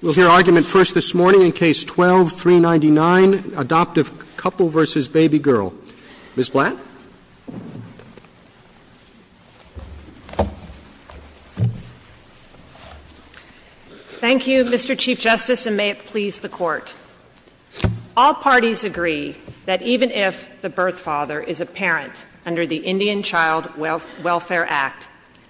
We'll hear argument first this morning in Case 12-399, Adoptive Couple v. Baby Girl. Ms. Blatt. Thank you, Mr. Chief Justice, and may it please the Court. All parties agree that even if the birth father is a parent under the Indian Child Welfare Act,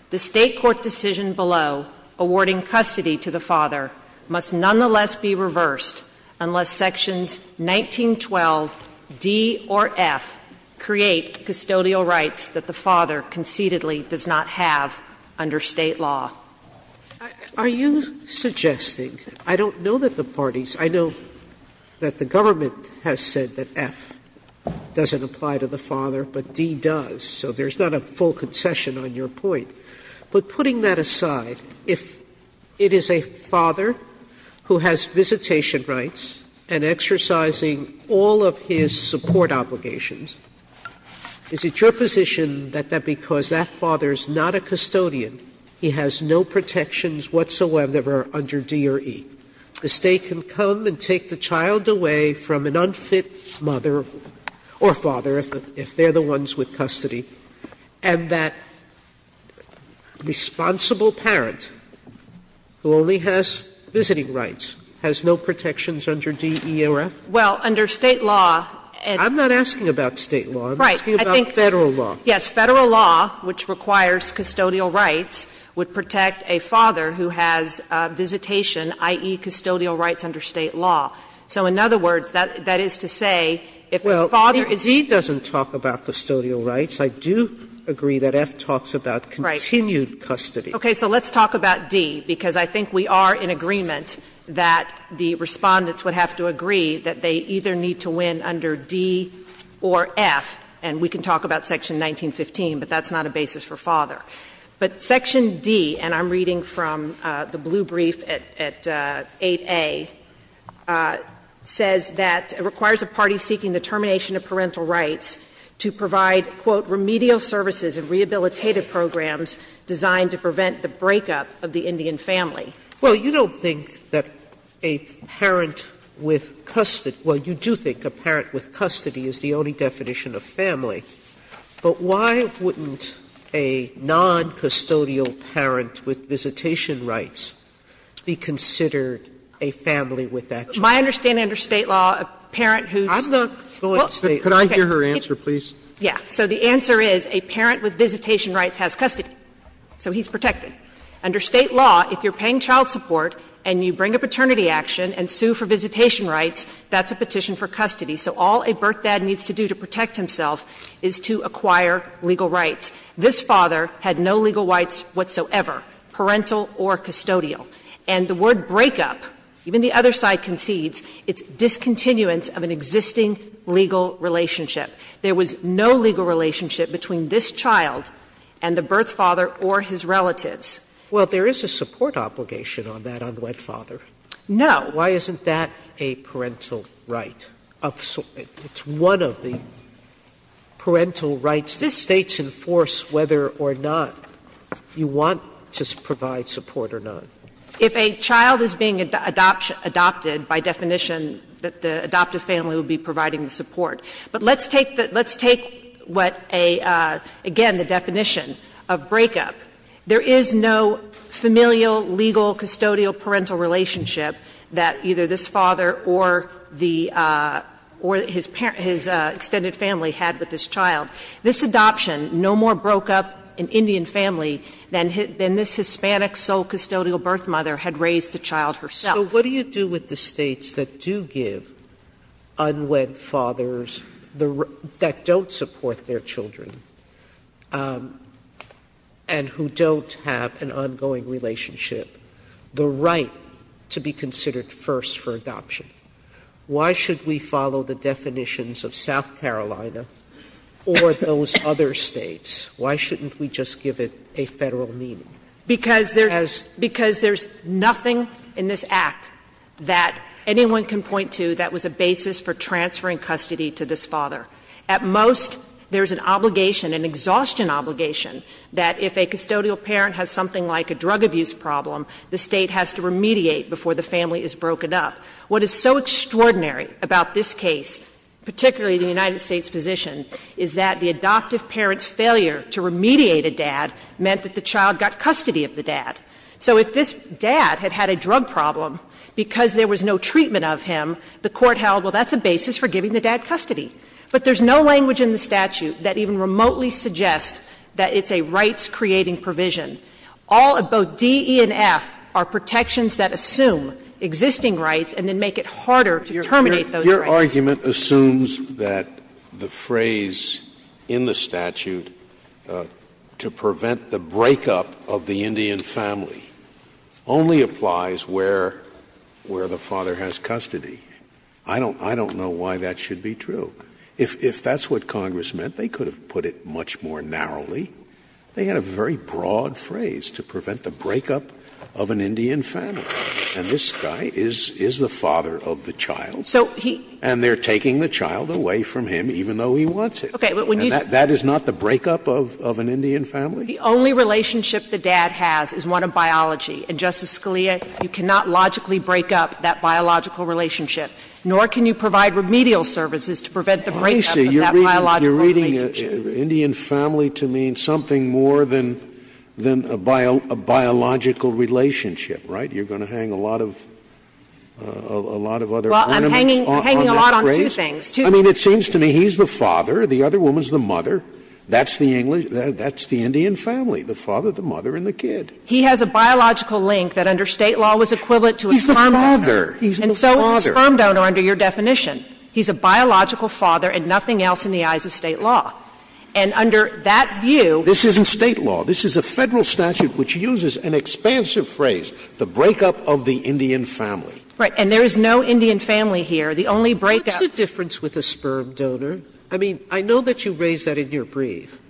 the State court decision below awarding custody to the father must nonetheless be reversed unless Sections 1912d or f create custodial rights that the father concededly does not have under State law. Are you suggesting, I don't know that the parties, I know that the government has said that f doesn't apply to the father, but d does, so there's not a full concession on your point. But putting that aside, if it is a father who has visitation rights and exercising all of his support obligations, is it your position that because that father is not a custodian, he has no protections whatsoever under D or E? The State can come and take the child away from an unfit mother or father, if they're the ones with custody, and that responsible parent who only has visiting rights has no protections under D, E, or F? Blatt. Well, under State law, it's not. I'm not asking about State law. I'm asking about Federal law. Right. I think, yes, Federal law, which requires custodial rights, would protect a father who has visitation, i.e., custodial rights under State law. So in other words, that is to say, if the father is not a custodian, he has no protections Sotomayor, if d doesn't talk about custodial rights, I do agree that f talks about continued custody. Right. Okay. So let's talk about d, because I think we are in agreement that the Respondents would have to agree that they either need to win under D or F, and we can talk about section 1915, but that's not a basis for father. But section D, and I'm reading from the blue brief at 8A, says that it requires a party seeking the termination of parental rights to provide, quote, remedial services and rehabilitative programs designed to prevent the breakup of the Indian family. Well, you don't think that a parent with custody — well, you do think a parent with custody is the only definition of family. But why wouldn't a noncustodial parent with visitation rights be considered a family with custody? My understanding under State law, a parent who's — I'm not going to State law. Could I hear her answer, please? Yeah. So the answer is a parent with visitation rights has custody, so he's protected. Under State law, if you're paying child support and you bring a paternity action and sue for visitation rights, that's a petition for custody. So all a birth dad needs to do to protect himself is to acquire legal rights. This father had no legal rights whatsoever, parental or custodial. And the word breakup, even the other side concedes, it's discontinuance of an existing legal relationship. There was no legal relationship between this child and the birth father or his relatives. Well, there is a support obligation on that on wet father. No. Why isn't that a parental right? It's one of the parental rights. This State's in force whether or not you want to provide support or not. If a child is being adopted by definition, the adoptive family would be providing the support. But let's take what a — again, the definition of breakup. There is no familial, legal, custodial, parental relationship that either this father or the — or his parent — his extended family had with this child. This adoption no more broke up an Indian family than this Hispanic sole custodial birth mother had raised the child herself. Sotomayor, what do you do with the States that do give unwed fathers that don't support their children and who don't have an ongoing relationship the right to be considered first for adoption? Why should we follow the definitions of South Carolina or those other States? Why shouldn't we just give it a Federal meaning? Because there's nothing in this Act that anyone can point to that was a basis for transferring custody to this father. At most, there is an obligation, an exhaustion obligation, that if a custodial parent has something like a drug abuse problem, the State has to remediate before the family is broken up. What is so extraordinary about this case, particularly the United States position, is that the adoptive parent's failure to remediate a dad meant that the child got custody of the dad. So if this dad had had a drug problem, because there was no treatment of him, the court held, well, that's a basis for giving the dad custody. But there's no language in the statute that even remotely suggests that it's a rights-creating provision. All of both D, E, and F are protections that assume existing rights and then make it harder to terminate those rights. Scalia. Your argument assumes that the phrase in the statute, to prevent the breakup of the Indian family, only applies where the father has custody. I don't know why that should be true. If that's what Congress meant, they could have put it much more narrowly. They had a very broad phrase, to prevent the breakup of an Indian family. And this guy is the father of the child. And they're taking the child away from him even though he wants it. That is not the breakup of an Indian family? The only relationship the dad has is one of biology. And, Justice Scalia, you cannot logically break up that biological relationship, nor can you provide remedial services to prevent the breakup of that biological relationship. Scalia. You're reading Indian family to mean something more than a biological relationship, right? You're going to hang a lot of other ornaments on that phrase? Well, I'm hanging a lot on two things. I mean, it seems to me he's the father, the other woman's the mother. That's the English — that's the Indian family, the father, the mother, and the kid. He has a biological link that under State law was equivalent to a sperm donor. He's the father. He's the father. And so is the sperm donor under your definition. He's a biological father and nothing else in the eyes of State law. And under that view — This isn't State law. This is a Federal statute which uses an expansive phrase, the breakup of the Indian family. Right. And there is no Indian family here. The only breakup — What's the difference with a sperm donor? I mean, I know that you raised that in your brief.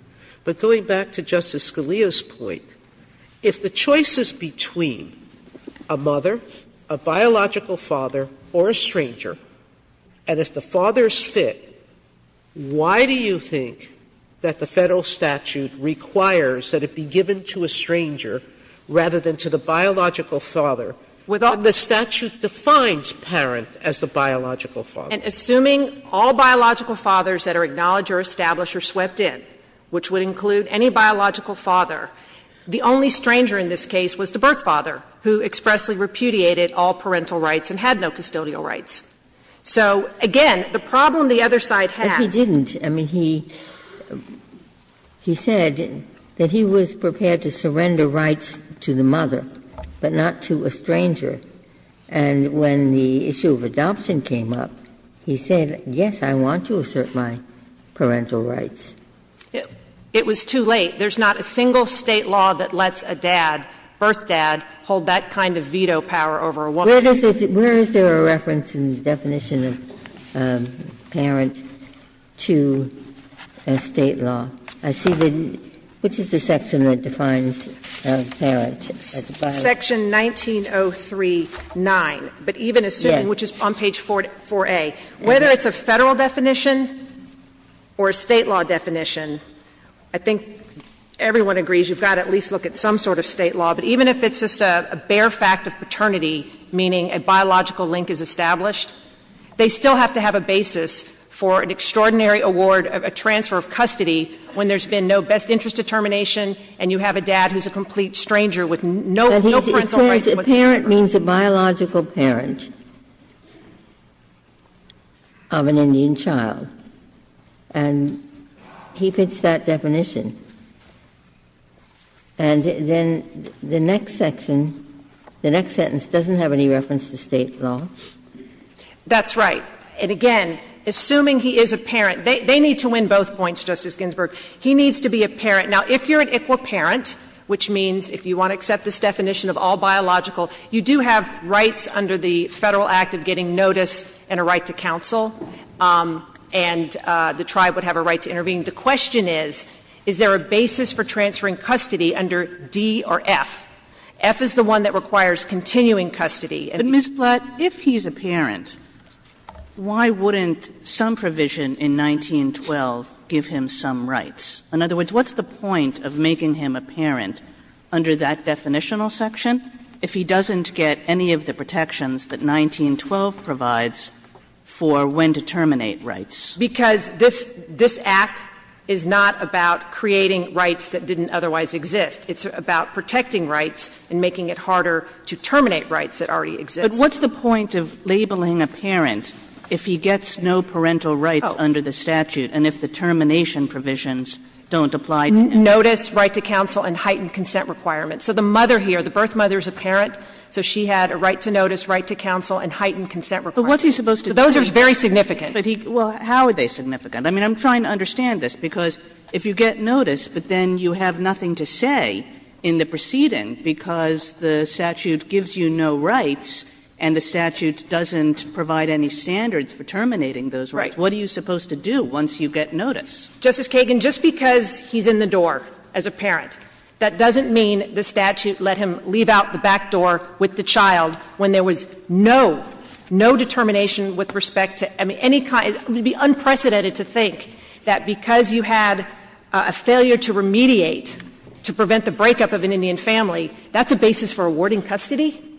But going back to Justice Scalia's point, if the choice is between a mother, a biological father, or a stranger, and if the father is fit, why do you think that the Federal statute requires that it be given to a stranger rather than to the biological father when the statute defines parent as the biological father? And assuming all biological fathers that are acknowledged or established are swept in, which would include any biological father, the only stranger in this case was the birth father, who expressly repudiated all parental rights and had no custodial rights. So, again, the problem the other side has — But he didn't. I mean, he said that he was prepared to surrender rights to the mother, but not to a stranger. And when the issue of adoption came up, he said, yes, I want to assert my parental rights. It was too late. There's not a single State law that lets a dad, birth dad, hold that kind of veto power over a woman. Where is there a reference in the definition of parent to a State law? I see the — which is the section that defines parent? It's section 19039, but even assuming, which is on page 4A, whether it's a Federal definition or a State law definition, I think everyone agrees you've got to at least look at some sort of State law. But even if it's just a bare fact of paternity, meaning a biological link is established, they still have to have a basis for an extraordinary award, a transfer of custody, when there's been no best interest determination and you have a dad who's a complete stranger with no parental rights. Ginsburg. But a parent means a biological parent of an Indian child. And he fits that definition. And then the next section, the next sentence doesn't have any reference to State law. That's right. And again, assuming he is a parent, they need to win both points, Justice Ginsburg. He needs to be a parent. Now, if you're an ICWA parent, which means if you want to accept this definition of all biological, you do have rights under the Federal Act of getting notice and a right to counsel, and the tribe would have a right to intervene. The question is, is there a basis for transferring custody under D or F? F is the one that requires continuing custody. Kagan. But, Ms. Blatt, if he's a parent, why wouldn't some provision in 1912 give him some rights? In other words, what's the point of making him a parent under that definitional section if he doesn't get any of the protections that 1912 provides for when to terminate rights? Because this Act is not about creating rights that didn't otherwise exist. It's about protecting rights and making it harder to terminate rights that already exist. But what's the point of labeling a parent if he gets no parental rights under the Federal Act of getting notice, right to counsel, and heightened consent requirements? So the mother here, the birth mother is a parent, so she had a right to notice, right to counsel, and heightened consent requirement. So those are very significant. Kagan. But he — well, how are they significant? I mean, I'm trying to understand this, because if you get notice, but then you have nothing to say in the proceeding because the statute gives you no rights and the statute doesn't provide any standards for terminating those rights, what are you supposed to do once you get notice? Justice Kagan, just because he's in the door as a parent, that doesn't mean the statute let him leave out the back door with the child when there was no, no determination with respect to any kind — it would be unprecedented to think that because you had a failure to remediate to prevent the breakup of an Indian family, that's a basis for awarding custody?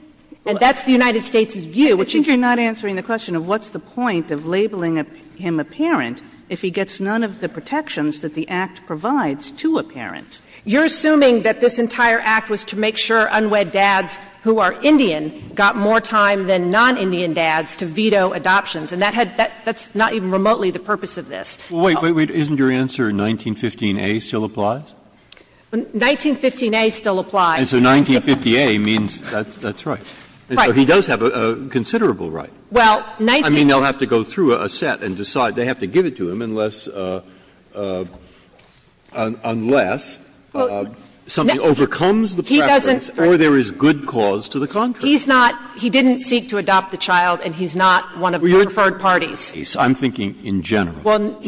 And that's the United States' view. Kagan. But you're not answering the question of what's the point of labeling him a parent if he gets none of the protections that the Act provides to a parent. You're assuming that this entire Act was to make sure unwed dads who are Indian got more time than non-Indian dads to veto adoptions, and that had — that's not even remotely the purpose of this. Well, wait, wait, isn't your answer 1915a still applies? 1915a still applies. And so 1950a means that's right. Right. So he does have a considerable right. Well, 19— I mean, they'll have to go through a set and decide. They have to give it to him unless — unless something overcomes the preference or there is good cause to the contract. He's not — he didn't seek to adopt the child, and he's not one of the preferred parties. I'm thinking in general. Well,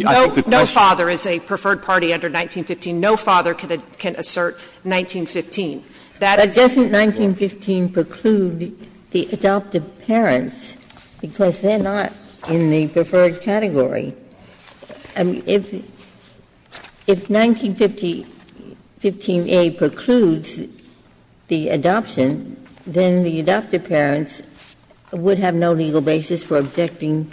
no father is a preferred party under 1915. No father can assert 1915. That is— But doesn't 1915 preclude the adoptive parents, because they're not in the preferred category? I mean, if 1915a precludes the adoption, then the adoptive parents would have no legal basis for objecting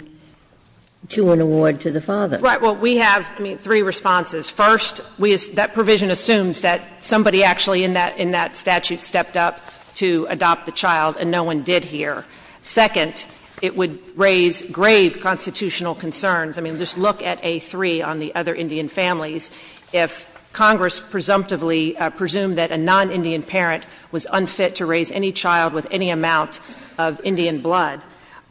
to an award to the father. Right. Well, we have, I mean, three responses. First, we — that provision assumes that somebody actually in that — in that statute stepped up to adopt the child, and no one did here. Second, it would raise grave constitutional concerns. I mean, just look at A3 on the other Indian families. If Congress presumptively presumed that a non-Indian parent was unfit to raise any child with any amount of Indian blood.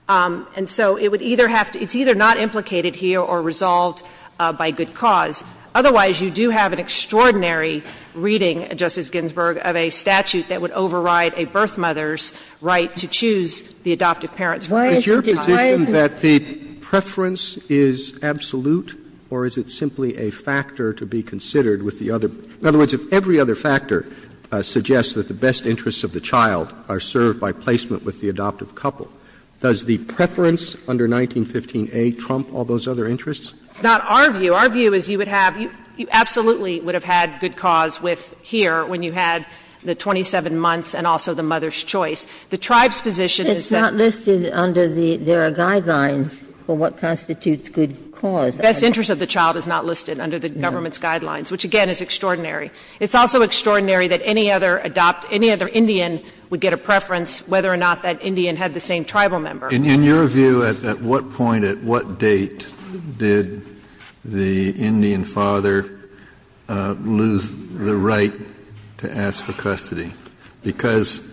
And so it would either have to — it's either not implicated here or resolved by good cause. Otherwise, you do have an extraordinary reading, Justice Ginsburg, of a statute that would override a birth mother's right to choose the adoptive parents. Why is your position that the preference is absolute, or is it simply a factor to be considered with the other? In other words, if every other factor suggests that the best interests of the child are served by placement with the adoptive couple, does the preference under 1915a trump all those other interests? It's not our view. Our view is you would have — you absolutely would have had good cause with — here when you had the 27 months and also the mother's choice. The tribe's position is that — It's not listed under the — there are guidelines for what constitutes good cause. The best interests of the child is not listed under the government's guidelines, which, again, is extraordinary. It's also extraordinary that any other adopt — any other Indian would get a preference whether or not that Indian had the same tribal member. In your view, at what point, at what date did the Indian father lose the right to ask for custody? Because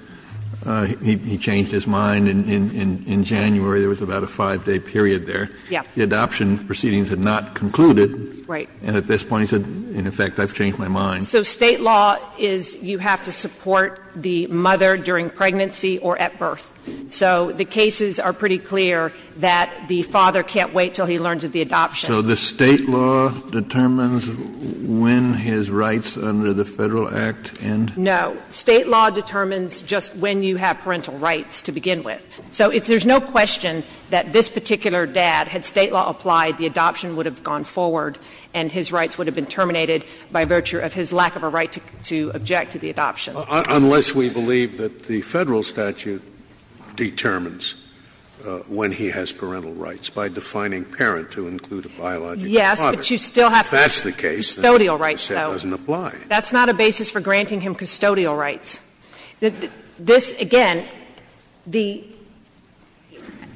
he changed his mind in January, there was about a 5-day period there. Yeah. The adoption proceedings had not concluded. Right. And at this point he said, in effect, I've changed my mind. So State law is you have to support the mother during pregnancy or at birth. So the cases are pretty clear that the father can't wait until he learns of the adoption. So the State law determines when his rights under the Federal Act end? No. State law determines just when you have parental rights to begin with. So there's no question that this particular dad, had State law applied, the adoption would have gone forward and his rights would have been terminated by virtue of his lack of a right to object to the adoption. Unless we believe that the Federal statute determines when he has parental rights by defining parent to include a biological father. Yes, but you still have to have custodial rights, though. That's not a basis for granting him custodial rights. This, again, the –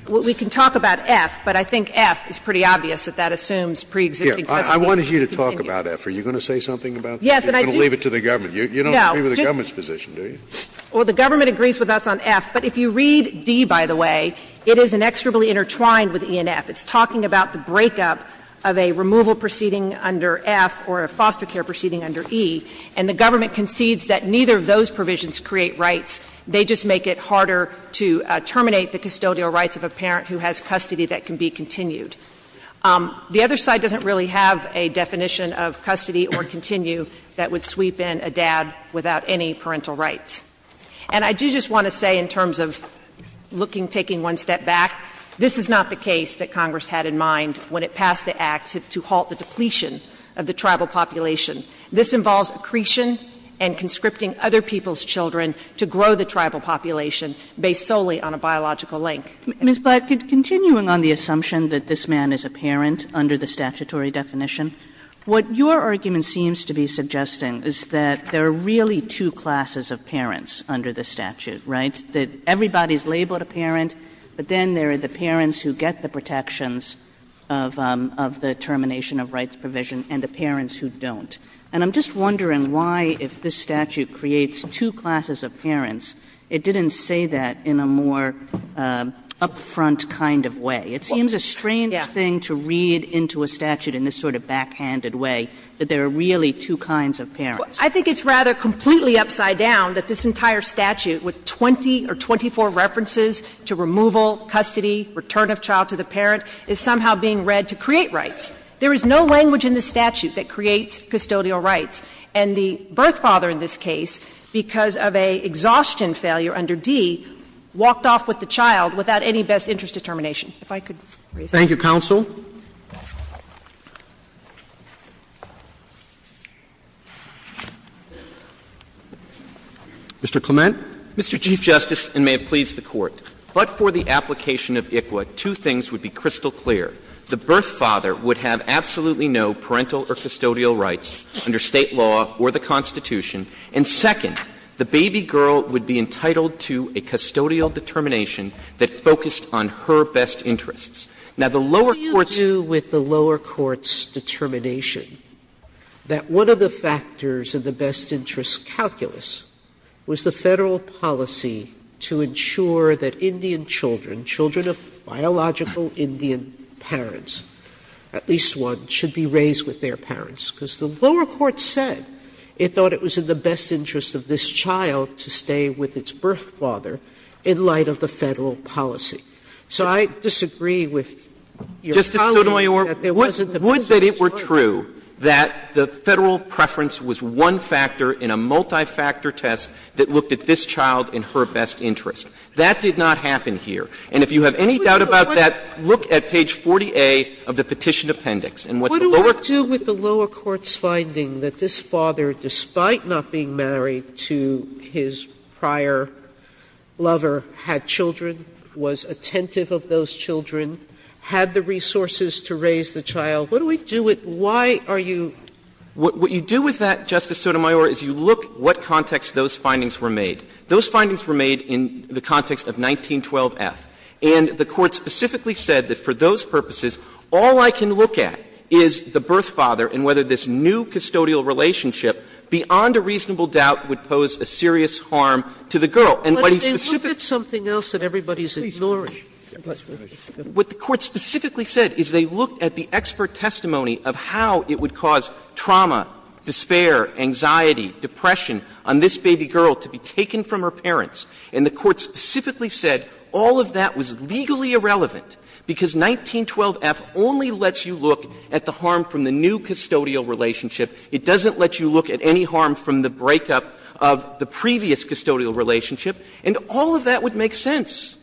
we can talk about F, but I think F is pretty obvious that that assumes preexisting custody. I wanted you to talk about F. Are you going to say something about that? Yes, and I do. You're going to leave it to the government. You don't agree with the government's position, do you? Well, the government agrees with us on F. But if you read D, by the way, it is inexorably intertwined with E and F. It's talking about the breakup of a removal proceeding under F or a foster care proceeding under E. And the government concedes that neither of those provisions create rights. They just make it harder to terminate the custodial rights of a parent who has custody that can be continued. The other side doesn't really have a definition of custody or continue that would sweep in a dad without any parental rights. And I do just want to say in terms of looking, taking one step back, this is not the case that Congress had in mind when it passed the Act to halt the depletion of the tribal population. This involves accretion and conscripting other people's children to grow the tribal population based solely on a biological link. Ms. Blatt, continuing on the assumption that this man is a parent under the statutory definition, what your argument seems to be suggesting is that there are really two classes of parents under the statute, right? That everybody is labeled a parent, but then there are the parents who get the protections of the termination of rights provision and the parents who don't. And I'm just wondering why, if this statute creates two classes of parents, it didn't say that in a more up-front kind of way. It seems a strange thing to read into a statute in this sort of backhanded way that there are really two kinds of parents. I think it's rather completely upside down that this entire statute, with 20 or 24 references to removal, custody, return of child to the parent, is somehow being read to create rights. There is no language in the statute that creates custodial rights. And the birth father in this case, because of an exhaustion failure under D, walked off with the child without any best interest determination. If I could raise my hand. Thank you, counsel. Mr. Clement. Mr. Chief Justice, and may it please the Court, but for the application of ICWA, two things would be crystal clear. The birth father would have absolutely no parental or custodial rights under State law or the Constitution, and second, the baby girl would be entitled to a custodial determination that focused on her best interests. Now, the lower courts' Sotomayor, what do you do with the lower court's determination that one of the factors of the best interest calculus was the Federal policy to ensure that Indian children, children of biological Indian parents, at least one, should be raised with their parents? Because the lower court said it thought it was in the best interest of this child to stay with its birth father in light of the Federal policy. So I disagree with your colleague that there wasn't a best interest model. Justice Sotomayor, would that it were true that the Federal preference was one factor in a multi-factor test that looked at this child in her best interest? That did not happen here. And if you have any doubt about that, look at page 40A of the petition appendix. And what the lower courts' Sotomayor, what do I do with the lower court's finding that this father, despite not being married to his prior lover, had children, was attentive of those children, had the resources to raise the child? What do we do with why are you? What you do with that, Justice Sotomayor, is you look at what context those findings were made. Those findings were made in the context of 1912f. And the Court specifically said that for those purposes, all I can look at is the doubt would pose a serious harm to the girl. And what is specific. Sotomayor, look at something else that everybody is ignoring. What the Court specifically said is they looked at the expert testimony of how it would cause trauma, despair, anxiety, depression on this baby girl to be taken from her parents. And the Court specifically said all of that was legally irrelevant because 1912f only lets you look at the harm from the new custodial relationship. It doesn't let you look at any harm from the breakup of the previous custodial relationship. And all of that would make sense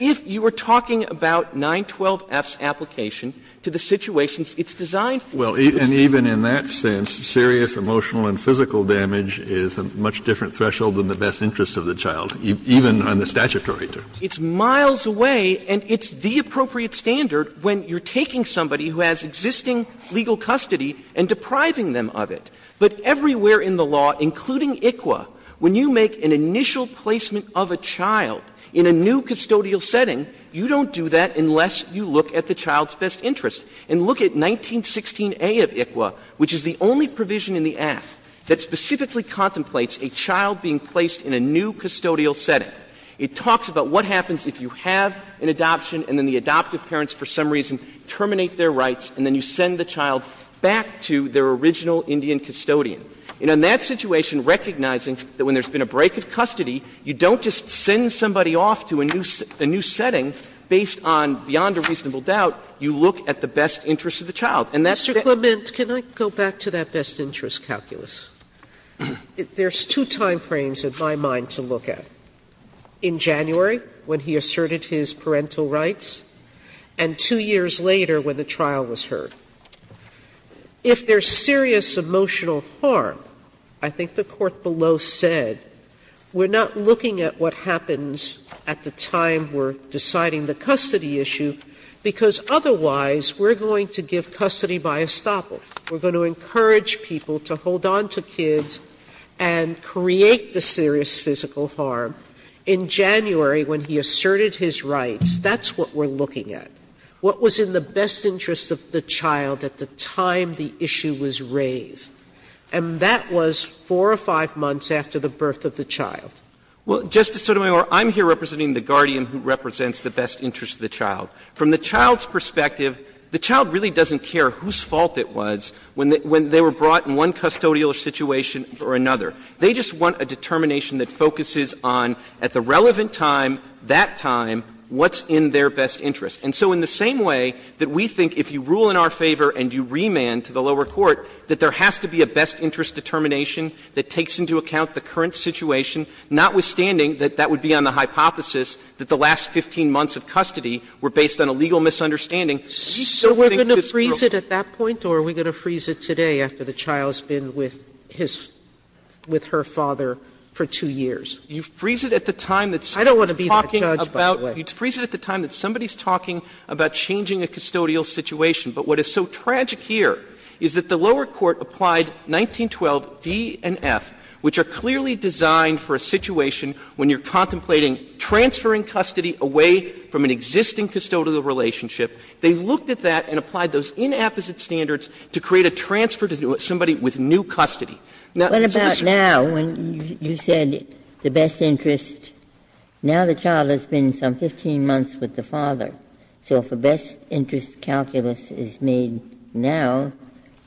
if you were talking about 912f's application to the situations it's designed for. Kennedy. Well, and even in that sense, serious emotional and physical damage is a much different threshold than the best interest of the child, even on the statutory terms. It's miles away, and it's the appropriate standard when you're taking somebody who has existing legal custody and depriving them of it. But everywhere in the law, including ICWA, when you make an initial placement of a child in a new custodial setting, you don't do that unless you look at the child's best interest. And look at 1916a of ICWA, which is the only provision in the Act that specifically contemplates a child being placed in a new custodial setting. It talks about what happens if you have an adoption and then the adoptive parents for some reason terminate their rights, and then you send the child back to their original Indian custodian. And in that situation, recognizing that when there's been a break of custody, you don't just send somebody off to a new setting based on, beyond a reasonable doubt, you look at the best interest of the child. And that's the question. Sotomayor, Mr. Clement, can I go back to that best interest calculus? There's two timeframes in my mind to look at. In January, when he asserted his parental rights, and two years later when the trial was heard. If there's serious emotional harm, I think the Court below said we're not looking at what happens at the time we're deciding the custody issue, because otherwise we're going to give custody by estoppel. We're going to encourage people to hold on to kids and create the serious physical harm. In January, when he asserted his rights, that's what we're looking at. What was in the best interest of the child at the time the issue was raised? And that was four or five months after the birth of the child. Clement, Well, Justice Sotomayor, I'm here representing the guardian who represents the best interest of the child. From the child's perspective, the child really doesn't care whose fault it was when they were brought in one custodial situation or another. They just want a determination that focuses on, at the relevant time, that time, what's in their best interest. And so in the same way that we think if you rule in our favor and you remand to the lower court, that there has to be a best interest determination that takes into account the current situation, notwithstanding that that would be on the hypothesis that the last 15 months of custody were based on a legal misunderstanding. Sotomayor, do you still think that's real? Sotomayor, so we're going to freeze it at that point, or are we going to freeze it today after the child's been with his — with her father for two years? Clement, You freeze it at the time that somebody's talking about changing a custodial situation. But what is so tragic here is that the lower court applied 1912d and f, which are clearly designed for a situation when you're contemplating transferring custody away from an existing custodial relationship. They looked at that and applied those inapposite standards to create a transfer to somebody with new custody. Now, Mr. Ginsburg. Ginsburg, what about now, when you said the best interest — now the child has been some 15 months with the father. So if a best interest calculus is made now,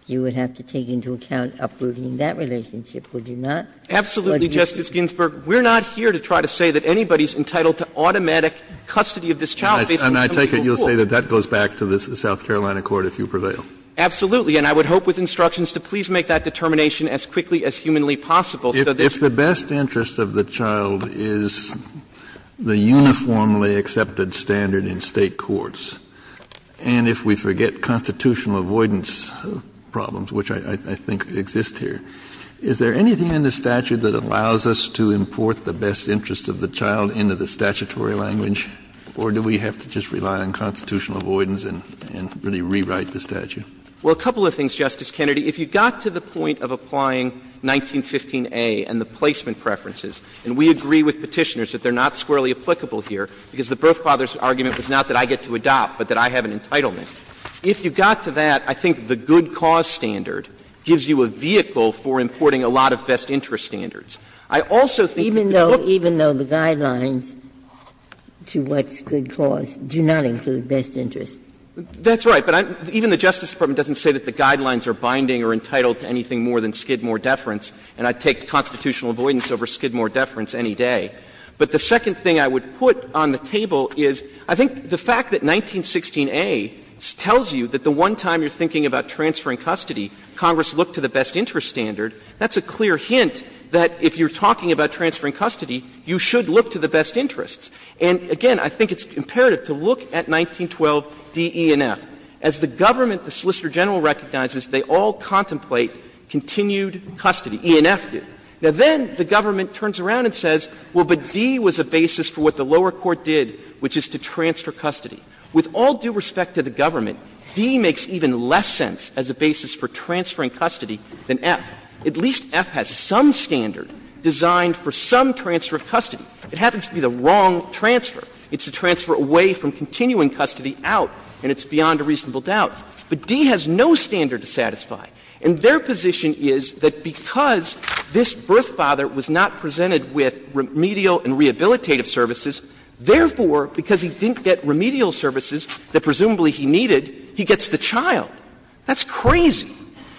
you would have to take into account uprooting that relationship, would you not? Absolutely, Justice Ginsburg. We're not here to try to say that anybody's entitled to automatic custody of this child based on some legal rule. If you take it, you'll say that that goes back to the South Carolina court if you prevail. Absolutely. And I would hope with instructions to please make that determination as quickly as humanly possible, so that it's true. If the best interest of the child is the uniformly accepted standard in State courts, and if we forget constitutional avoidance problems, which I think exist here, is there anything in the statute that allows us to import the best interest of the child into the statutory language, or do we have to just rely on constitutional avoidance and really rewrite the statute? Well, a couple of things, Justice Kennedy. If you got to the point of applying 1915a and the placement preferences, and we agree with Petitioners that they're not squarely applicable here, because the birth father's argument was not that I get to adopt, but that I have an entitlement. If you got to that, I think the good cause standard gives you a vehicle for importing I also think that the good cause standard gives you a vehicle for importing the guidelines to what's good cause, do not include best interest. That's right, but even the Justice Department doesn't say that the guidelines are binding or entitled to anything more than skidmore deference, and I'd take constitutional avoidance over skidmore deference any day. But the second thing I would put on the table is, I think the fact that 1916a tells you that the one time you're thinking about transferring custody, Congress looked to the best interest standard, that's a clear hint that if you're talking about best interests, and again, I think it's imperative to look at 1912d, e, and f. As the government, the Solicitor General recognizes, they all contemplate continued custody, e and f do. Now, then the government turns around and says, well, but d was a basis for what the lower court did, which is to transfer custody. With all due respect to the government, d makes even less sense as a basis for transferring custody than f. At least f has some standard designed for some transfer of custody. It happens to be the wrong transfer. It's a transfer away from continuing custody out, and it's beyond a reasonable doubt. But d has no standard to satisfy. And their position is that because this birth father was not presented with remedial and rehabilitative services, therefore, because he didn't get remedial services that presumably he needed, he gets the child. That's crazy.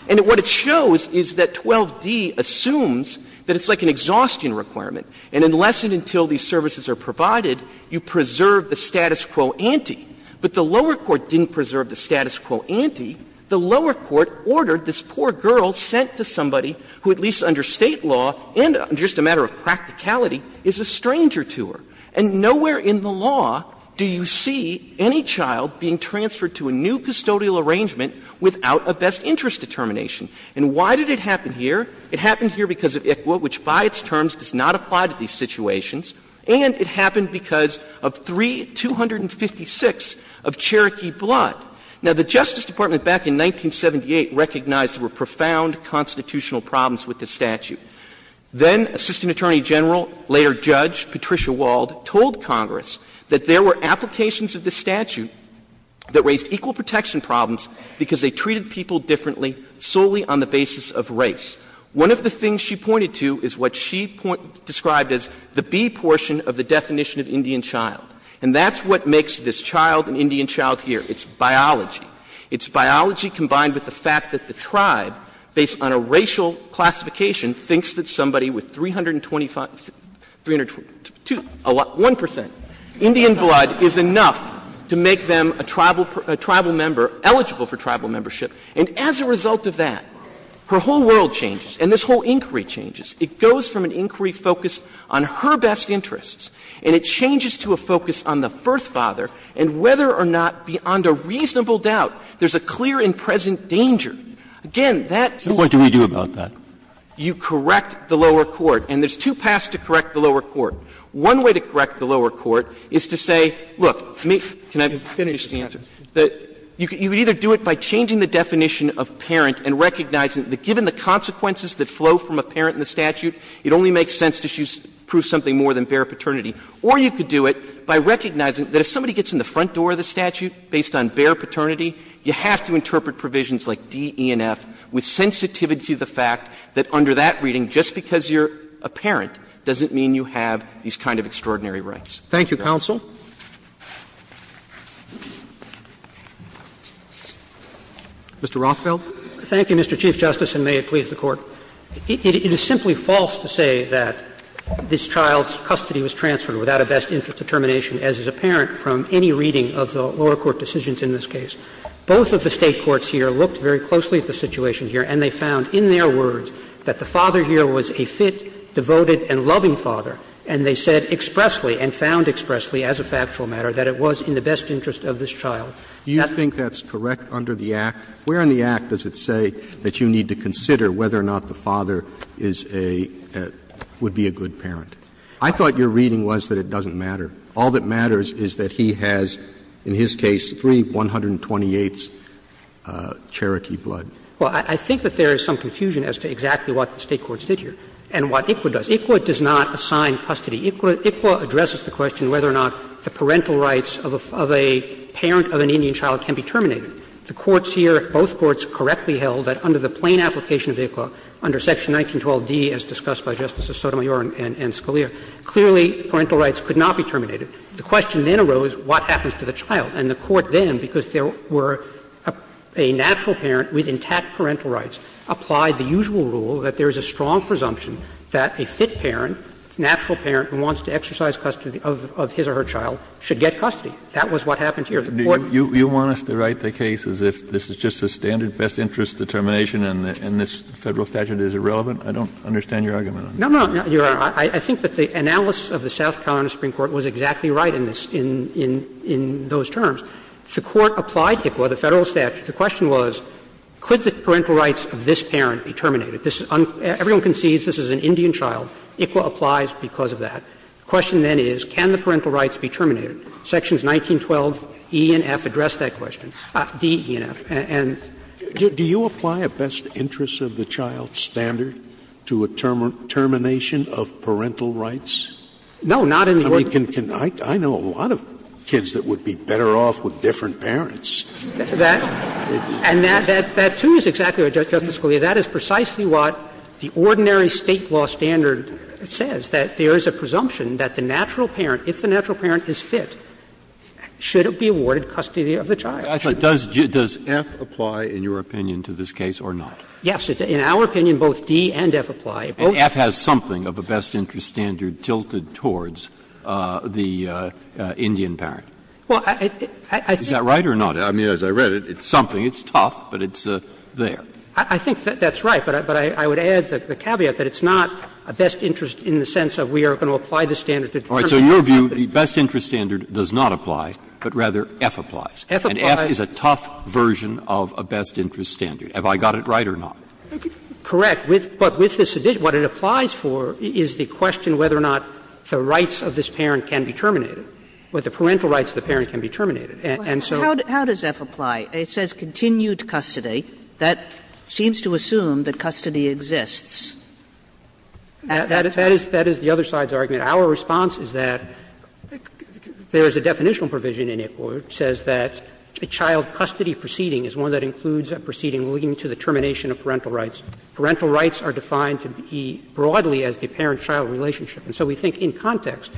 And what it shows is that 12d assumes that it's like an exhaustion requirement, and unless and until these services are provided, you preserve the status quo ante. But the lower court didn't preserve the status quo ante. The lower court ordered this poor girl sent to somebody who, at least under State law and just a matter of practicality, is a stranger to her. And nowhere in the law do you see any child being transferred to a new custodial arrangement without a best interest determination. And why did it happen here? It happened here because of ICWA, which by its terms does not apply to these situations. And it happened because of 3256 of Cherokee blood. Now, the Justice Department back in 1978 recognized there were profound constitutional problems with this statute. Then Assistant Attorney General, later judge Patricia Wald, told Congress that there were applications of this statute that raised equal protection problems because they treated people differently solely on the basis of race. One of the things she pointed to is what she described as the B portion of the definition of Indian child. And that's what makes this child an Indian child here. It's biology. It's biology combined with the fact that the tribe, based on a racial classification, thinks that somebody with 325 — 325 — 1 percent Indian blood is enough to make them a tribal member eligible for tribal membership. And as a result of that, her whole world changes and this whole inquiry changes. It goes from an inquiry focused on her best interests, and it changes to a focus on the birth father, and whether or not, beyond a reasonable doubt, there's a clear and present danger. Again, that's the point. Breyer, what do we do about that? You correct the lower court, and there's two paths to correct the lower court. One way to correct the lower court is to say, look, can I finish the answer? You could either do it by changing the definition of parent and recognizing that given the consequences that flow from a parent in the statute, it only makes sense to prove something more than bare paternity. Or you could do it by recognizing that if somebody gets in the front door of the statute based on bare paternity, you have to interpret provisions like D, E, and F with sensitivity to the fact that under that reading, just because you're a parent doesn't mean you have these kind of extraordinary rights. Thank you, counsel. Mr. Rothfeld. Thank you, Mr. Chief Justice, and may it please the Court. It is simply false to say that this child's custody was transferred without a best interest determination, as is apparent from any reading of the lower court decisions in this case. Both of the State courts here looked very closely at the situation here, and they found in their words that the father here was a fit, devoted, and loving father. And they said expressly, and found expressly as a factual matter, that it was in the best interest of this child. That's correct under the Act. Where in the Act does it say that you need to consider whether or not the father is a – would be a good parent? I thought your reading was that it doesn't matter. All that matters is that he has, in his case, three 128th's Cherokee blood. Well, I think that there is some confusion as to exactly what the State courts did here and what ICWA does. Because ICWA does not assign custody. ICWA addresses the question whether or not the parental rights of a parent of an Indian child can be terminated. The courts here, both courts, correctly held that under the plain application of ICWA, under Section 1912d, as discussed by Justices Sotomayor and Scalia, clearly parental rights could not be terminated. The question then arose what happens to the child. And the Court then, because there were a natural parent with intact parental rights, applied the usual rule that there is a strong presumption that a fit parent, natural parent who wants to exercise custody of his or her child, should get custody. That was what happened here. The Court – Kennedy, you want us to write the case as if this is just a standard best interest determination and this Federal statute is irrelevant? I don't understand your argument on that. No, no, no, Your Honor. I think that the analysis of the South Carolina Supreme Court was exactly right in this – in those terms. The Court applied ICWA, the Federal statute. The question was, could the parental rights of this parent be terminated? This is – everyone concedes this is an Indian child. ICWA applies because of that. The question then is, can the parental rights be terminated? Sections 1912e and f address that question, d, e, and f. And do you apply a best interest of the child standard to a termination of parental rights? No, not in the order. I mean, can – I know a lot of kids that would be better off with different parents. And that, too, is exactly right, Justice Scalia. That is precisely what the ordinary State law standard says, that there is a presumption that the natural parent, if the natural parent is fit, should it be awarded custody of the child. I thought, does f apply in your opinion to this case or not? Yes. In our opinion, both d and f apply. And f has something of a best interest standard tilted towards the Indian parent. Well, I think that's right. I mean, as I read it, it's something, it's tough, but it's there. I think that's right. But I would add the caveat that it's not a best interest in the sense of we are going to apply the standard to terminate something. All right. So in your view, the best interest standard does not apply, but rather f applies. f applies. And f is a tough version of a best interest standard. Have I got it right or not? Correct. But with this addition, what it applies for is the question whether or not the rights of this parent can be terminated, whether the parental rights of the parent can be terminated. And so. How does f apply? It says continued custody. That seems to assume that custody exists. That is the other side's argument. Our response is that there is a definitional provision in it where it says that a child custody proceeding is one that includes a proceeding leading to the termination of parental rights. Parental rights are defined to be broadly as the parent-child relationship. And so we think in context,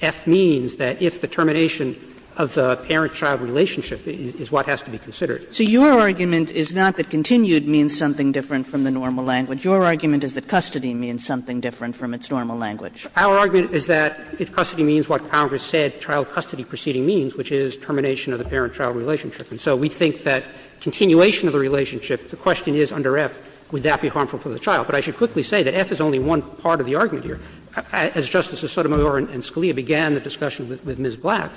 f means that if the termination of the parent-child relationship is what has to be considered. So your argument is not that continued means something different from the normal language. Your argument is that custody means something different from its normal language. Our argument is that if custody means what Congress said child custody proceeding means, which is termination of the parent-child relationship. And so we think that continuation of the relationship, the question is under f, would that be harmful for the child. But I should quickly say that f is only one part of the argument here. As Justices Sotomayor and Scalia began the discussion with Ms. Black,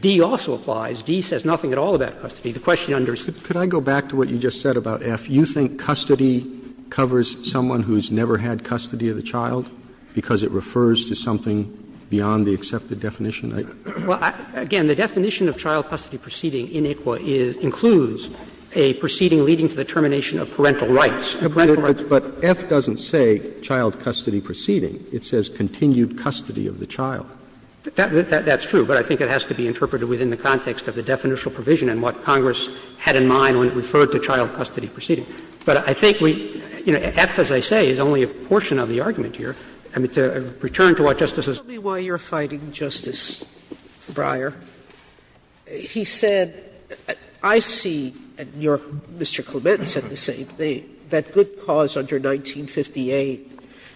d also applies. d says nothing at all about custody. The question under f. Roberts, could I go back to what you just said about f? You think custody covers someone who has never had custody of the child because it refers to something beyond the accepted definition? Well, again, the definition of child custody proceeding in ICWA includes a proceeding leading to the termination of parental rights. But f doesn't say child custody proceeding. It says continued custody of the child. That's true, but I think it has to be interpreted within the context of the definitional provision and what Congress had in mind when it referred to child custody proceeding. But I think we — you know, f, as I say, is only a portion of the argument here. I mean, to return to what Justice Sotomayor said, I think it would be helpful if we could go back to what Justice Sotomayor said. Sotomayor said the same thing, that good cause under 1958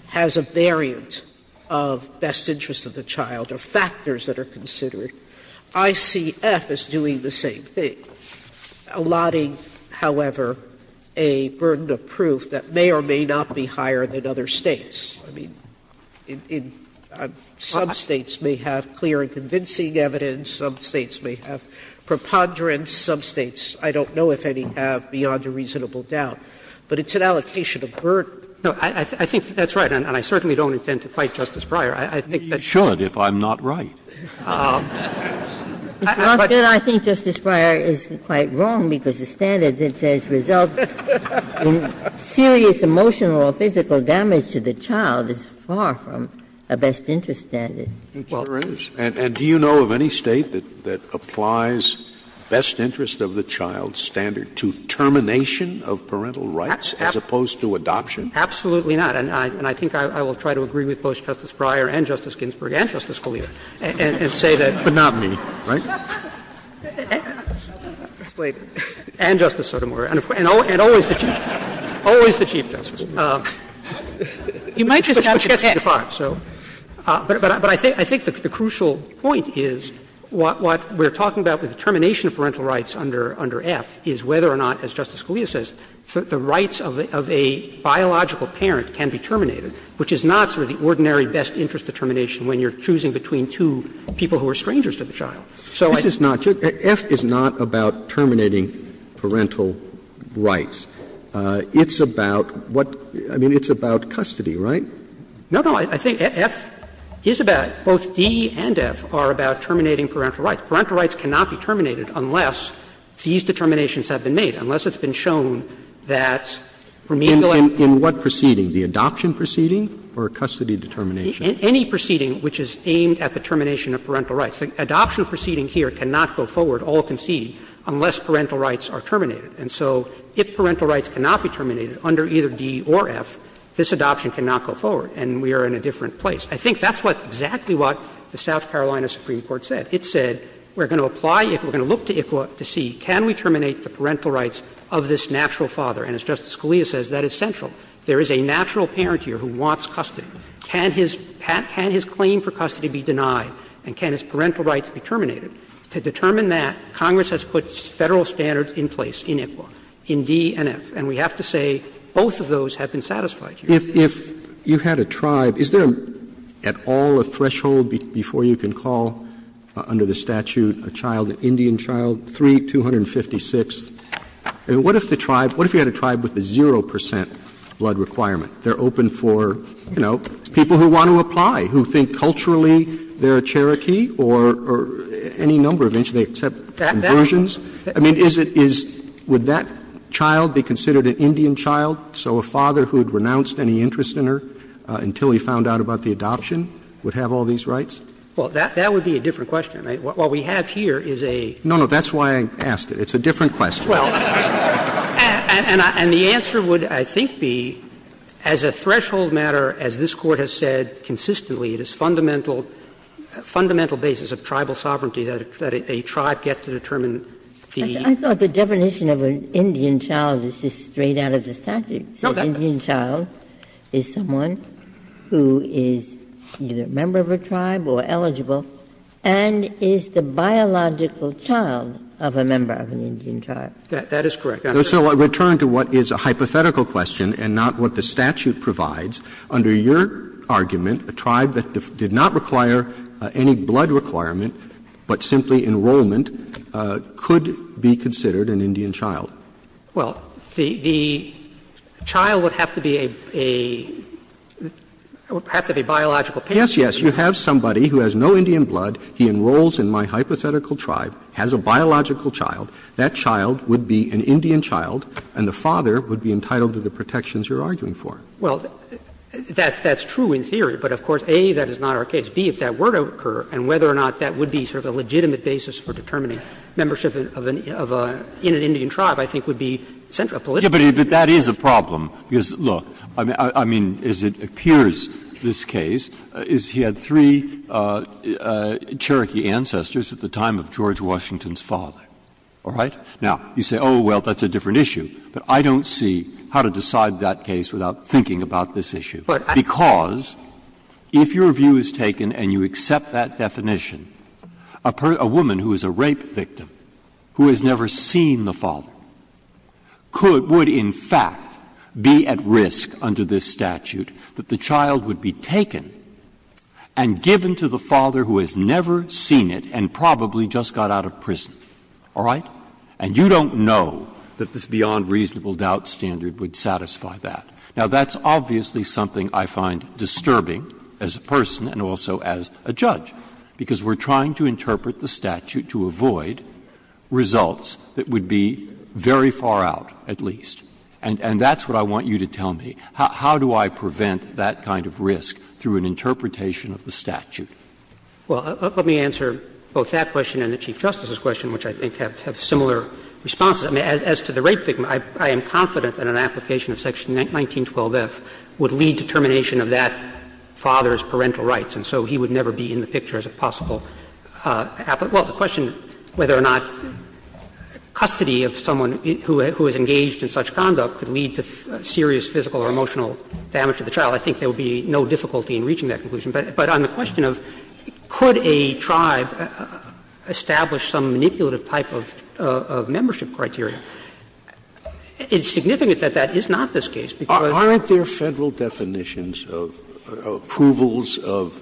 has a variant of best interests of the child, of factors that are considered. ICF is doing the same thing, allotting, however, a burden of proof that may or may not be higher than other States. I mean, some States may have clear and convincing evidence, some States may have preponderance, some States, I don't know if any, have beyond a reasonable doubt. But it's an allocation of burden. No, I think that's right, and I certainly don't intend to fight Justice Breyer. I think that's right. Scalia, I think Justice Breyer is quite wrong, because the standard that says, result in serious emotional or physical damage to the child is far from a best interest standard. Scalia, and do you know of any State that applies best interest of the child standard to termination of parental rights as opposed to adoption? Absolutely not. And I think I will try to agree with both Justice Breyer and Justice Ginsburg and Justice Scalia, and say that. But not me, right? And Justice Sotomayor, and always the Chief Justice, always the Chief Justice. You might just have to testify. But I think the crucial point is what we're talking about with the termination of parental rights under F is whether or not, as Justice Scalia says, the rights of a biological parent can be terminated, which is not sort of the ordinary best interest determination when you're choosing between two people who are strangers to the child. So I think that's right. But F is about custody, right? No, no. I think F is about, both D and F are about terminating parental rights. Parental rights cannot be terminated unless these determinations have been made, unless it's been shown that remanded life. In what proceeding? The adoption proceeding or custody determination? Any proceeding which is aimed at the termination of parental rights. are terminated. And so if parental rights cannot be terminated under either D or F, this adoption cannot go forward, and we are in a different place. I think that's what exactly what the South Carolina Supreme Court said. It said we're going to apply, we're going to look to ICWA to see can we terminate the parental rights of this natural father. And as Justice Scalia says, that is central. There is a natural parent here who wants custody. Can his claim for custody be denied and can his parental rights be terminated? To determine that, Congress has put Federal standards in place in ICWA, in D and F. And we have to say both of those have been satisfied here. Roberts Is there at all a threshold before you can call under the statute a child, an Indian child, 3, 256th? I mean, what if the tribe, what if you had a tribe with a 0 percent blood requirement? They're open for, you know, people who want to apply, who think culturally they're a Cherokee or any number of interests, they accept conversions. I mean, is it, is, would that child be considered an Indian child? So a father who had renounced any interest in her until he found out about the adoption would have all these rights? Well, that would be a different question. What we have here is a No, no, that's why I asked it. It's a different question. Well, and the answer would, I think, be as a threshold matter, as this Court has said consistently, it is fundamental basis of tribal sovereignty that a tribe gets to determine the I thought the definition of an Indian child is just straight out of the statute. So an Indian child is someone who is either a member of a tribe or eligible and is the biological child of a member of an Indian tribe. That is correct. So I return to what is a hypothetical question and not what the statute provides. Under your argument, a tribe that did not require any blood requirement, but simply enrollment, could be considered an Indian child. Well, the child would have to be a, a, would have to be a biological parent. Yes, yes. You have somebody who has no Indian blood. He enrolls in my hypothetical tribe, has a biological child. That child would be an Indian child, and the father would be entitled to the protections you're arguing for. Well, that's true in theory, but of course, A, that is not our case. B, if that were to occur, and whether or not that would be sort of a legitimate basis for determining membership of a, in an Indian tribe, I think would be central politically. But that is a problem, because, look, I mean, as it appears in this case, is he had three Cherokee ancestors at the time of George Washington's father, all right? Now, you say, oh, well, that's a different issue. But I don't see how to decide that case without thinking about this issue. Because if your view is taken and you accept that definition, a woman who is a rape victim who has never seen the father could, would in fact be at risk under this statute that the child would be taken and given to the father who has never seen it and probably just got out of prison, all right? And you don't know that this beyond reasonable doubt standard would satisfy that. Now, that's obviously something I find disturbing as a person and also as a judge, because we're trying to interpret the statute to avoid results that would be very far out, at least. And that's what I want you to tell me. How do I prevent that kind of risk through an interpretation of the statute? Well, let me answer both that question and the Chief Justice's question, which I think have similar responses. I mean, as to the rape victim, I am confident that an application of section 1912F would lead to termination of that father's parental rights. And so he would never be in the picture as a possible applicant. Well, the question whether or not custody of someone who is engaged in such conduct could lead to serious physical or emotional damage to the child, I think there would be no difficulty in reaching that conclusion. But on the question of could a tribe establish some manipulative type of membership criteria, it's significant that that is not this case, because they're not. Aren't there Federal definitions of approvals of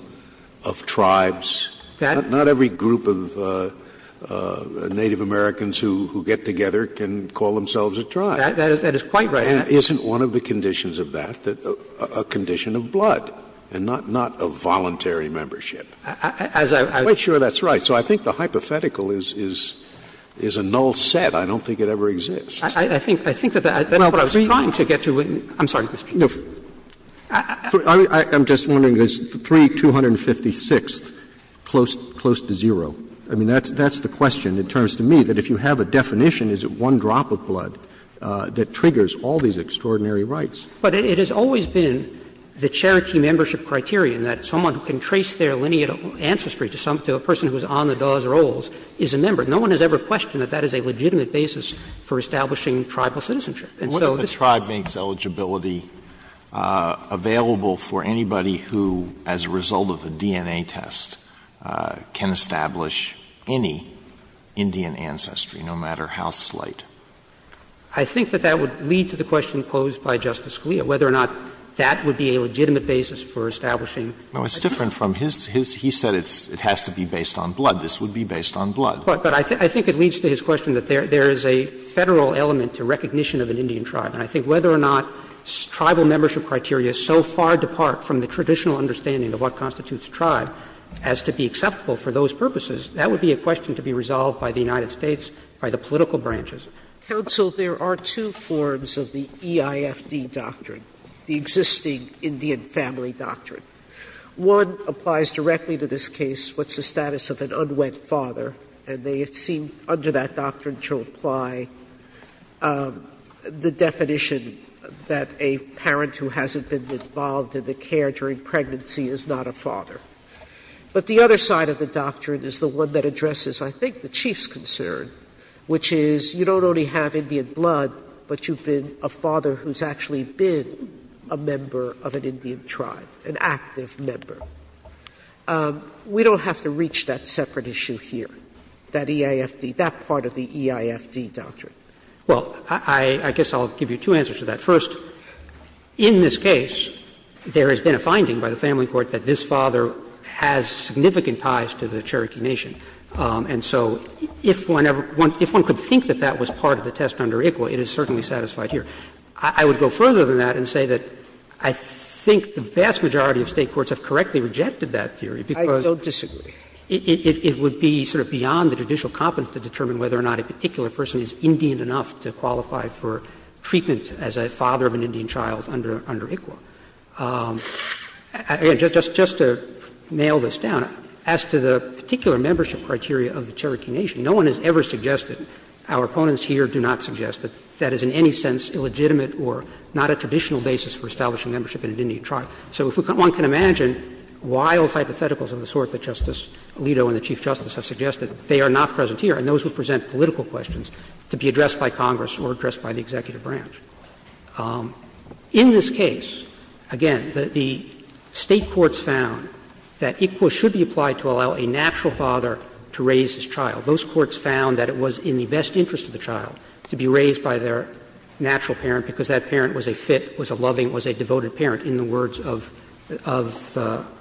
tribes? Not every group of Native Americans who get together can call themselves a tribe. That is quite right. And isn't one of the conditions of that a condition of blood, and not a blood voluntary membership? I'm quite sure that's right. So I think the hypothetical is a null set. I don't think it ever exists. I think that's what I was trying to get to. I'm sorry, Mr. Chief Justice. I'm just wondering, is 3256 close to zero? I mean, that's the question in terms to me, that if you have a definition, is it one drop of blood that triggers all these extraordinary rights? But it has always been the charity membership criterion that someone who can trace their lineate ancestry to a person who is on the Dawes or Oles is a member. No one has ever questioned that that is a legitimate basis for establishing And so this is not true. Alito, what if a tribe makes eligibility available for anybody who, as a result of a DNA test, can establish any Indian ancestry, no matter how slight? I think that that would lead to the question posed by Justice Scalia, whether or not that would be a legitimate basis for establishing. No, it's different from his. He said it has to be based on blood. This would be based on blood. But I think it leads to his question that there is a Federal element to recognition of an Indian tribe. And I think whether or not tribal membership criteria so far depart from the traditional understanding of what constitutes a tribe as to be acceptable for those purposes, that would be a question to be resolved by the United States, by the political branches. Sotomayor, there are two forms of the EIFD doctrine, the existing Indian family doctrine. One applies directly to this case, what's the status of an unwed father, and they seem under that doctrine to apply the definition that a parent who hasn't been involved in the care during pregnancy is not a father. But the other side of the doctrine is the one that addresses, I think, the Chief's concern, which is you don't only have Indian blood, but you've been a father who's actually been a member of an Indian tribe, an active member. We don't have to reach that separate issue here, that EIFD, that part of the EIFD doctrine. Well, I guess I'll give you two answers to that. First, in this case, there has been a finding by the family court that this father has significant ties to the Cherokee Nation. And so if one could think that that was part of the test under ICWA, it is certainly satisfied here. I would go further than that and say that I think the vast majority of State courts have correctly rejected that theory, because it would be sort of beyond the judicial competence to determine whether or not a particular person is Indian enough to qualify for treatment as a father of an Indian child under ICWA. Again, just to nail this down, as to the particular membership criteria of the Cherokee Nation, no one has ever suggested, our opponents here do not suggest, that that is in any sense illegitimate or not a traditional basis for establishing membership in an Indian tribe. So if one can imagine wild hypotheticals of the sort that Justice Alito and the Chief Justice have suggested, they are not present here. And those would present political questions to be addressed by Congress or addressed by the executive branch. In this case, again, the State courts found that ICWA should be applied to allow a natural father to raise his child. Those courts found that it was in the best interest of the child to be raised by their natural parent, because that parent was a fit, was a loving, was a devoted parent in the words of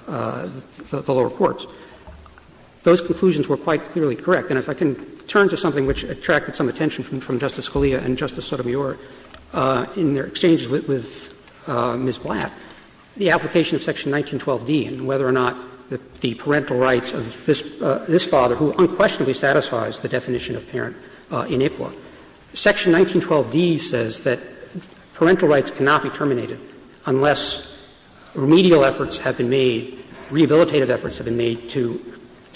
the lower courts. Those conclusions were quite clearly correct. And if I can turn to something which attracted some attention from Justice Scalia and Justice Sotomayor in their exchanges with Ms. Blatt, the application of Section 1912d and whether or not the parental rights of this father, who unquestionably satisfies the definition of parent in ICWA. Section 1912d says that parental rights cannot be terminated unless remedial efforts have been made, rehabilitative efforts have been made to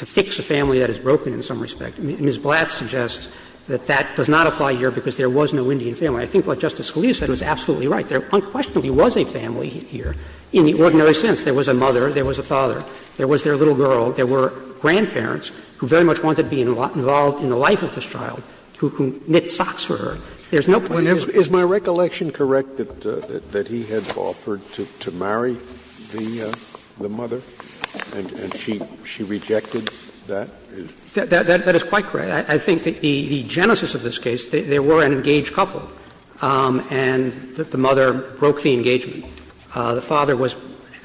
fix a family that has broken in some respect. Ms. Blatt suggests that that does not apply here because there was no Indian family. I think what Justice Scalia said was absolutely right. There unquestionably was a family here in the ordinary sense. There was a mother, there was a father, there was their little girl, there were grandparents who very much wanted to be involved in the life of this child, who knit socks for her. There's no point in ever doing that. Scalia's is my recollection correct that he had offered to marry the mother, and she rejected that? That is quite correct. I think the genesis of this case, there were an engaged couple, and the mother broke the engagement. The father was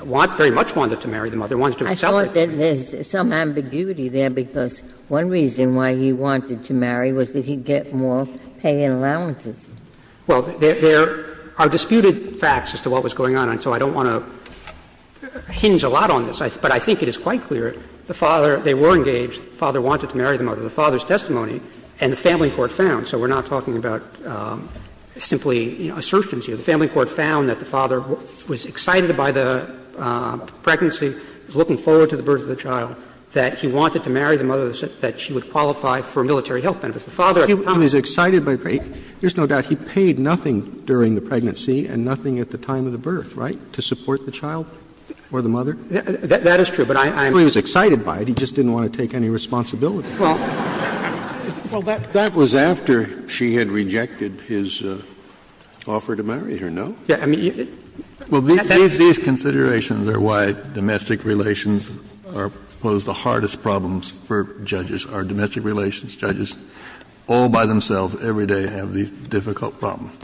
very much wanted to marry the mother, wanted to accept it. I thought that there's some ambiguity there, because one reason why he wanted to marry was that he'd get more paying allowances. Well, there are disputed facts as to what was going on, and so I don't want to hinge a lot on this. But I think it is quite clear the father, they were engaged, the father wanted to marry the mother. The father's testimony and the family court found, so we're not talking about simply assertions here, the family court found that the father was excited by the pregnancy, was looking forward to the birth of the child, that he wanted to marry the mother so that she would qualify for a military health benefit. The father at the time was excited by the pregnancy. There's no doubt he paid nothing during the pregnancy and nothing at the time of the birth, right, to support the child or the mother? That is true, but I'm not sure he was excited by it. He just didn't want to take any responsibility. Well, that was after she had rejected his offer to marry her, no? Well, these considerations are why domestic relations pose the hardest problems for judges. Our domestic relations judges all by themselves, every day, have these difficult problems.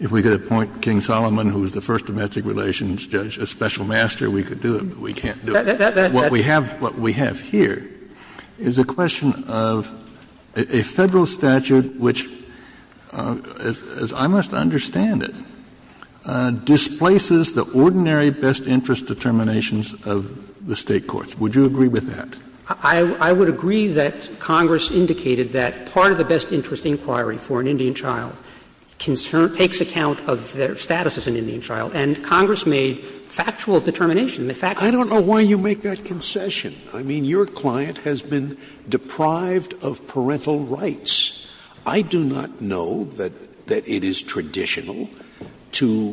If we could appoint King Solomon, who was the first domestic relations judge, a special master, we could do it, but we can't do it. What we have here is a question of a Federal statute which, as I must understand it, displaces the ordinary best interest determinations of the State courts. Would you agree with that? I would agree that Congress indicated that part of the best interest inquiry for an Indian child takes account of their status as an Indian child, and Congress made factual determination. The fact is that the child is an Indian child, and the fact is that the child is an Indian child. I don't know why you make that concession. I mean, your client has been deprived of parental rights. I do not know that it is traditional to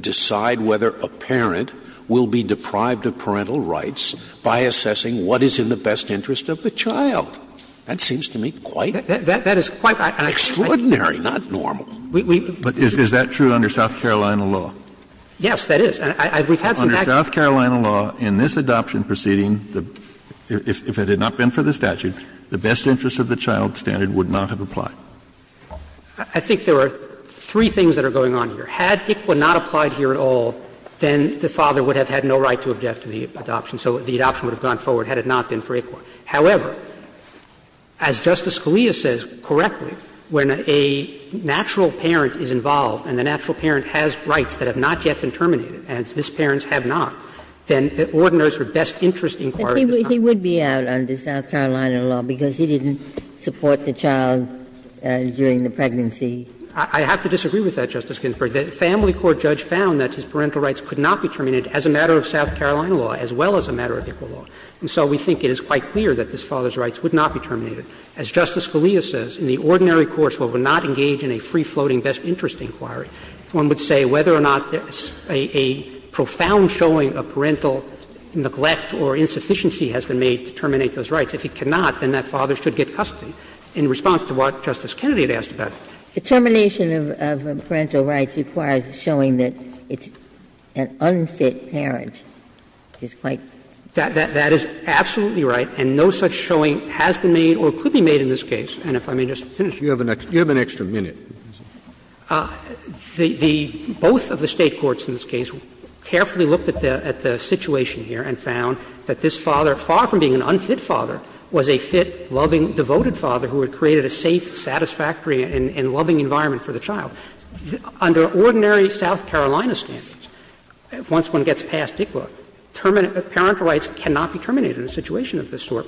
decide whether a parent will be deprived of parental rights by assessing what is in the best interest of the child. That seems to me quite extraordinary, not normal. Is that true under South Carolina law? Yes, that is. Under South Carolina law, in this adoption proceeding, if it had not been for the statute, the best interest of the child standard would not have applied. I think there are three things that are going on here. Had ICWA not applied here at all, then the father would have had no right to object to the adoption, so the adoption would have gone forward had it not been for ICWA. However, as Justice Scalia says correctly, when a natural parent is involved and the natural parent has rights that have not yet been terminated, and this parent has not, then the ordiners for best interest inquiries would not. But he would be out under South Carolina law because he didn't support the child during the pregnancy. I have to disagree with that, Justice Ginsburg. The family court judge found that his parental rights could not be terminated as a matter of South Carolina law, as well as a matter of ICWA law. And so we think it is quite clear that this father's rights would not be terminated. As Justice Scalia says, in the ordinary courts where we're not engaged in a free-floating best interest inquiry, one would say whether or not a profound showing of parental neglect or insufficiency has been made to terminate those rights. If it cannot, then that father should get custody. In response to what Justice Kennedy had asked about it. Ginsburg. The termination of parental rights requires a showing that it's an unfit parent. He's right. That is absolutely right, and no such showing has been made or could be made in this case. And if I may just finish. You have an extra minute. The both of the State courts in this case carefully looked at the situation here and found that this father, far from being an unfit father, was a fit, loving, devoted father who had created a safe, satisfactory, and loving environment for the child. Under ordinary South Carolina standards, once one gets past ICWA, parental rights cannot be terminated in a situation of this sort.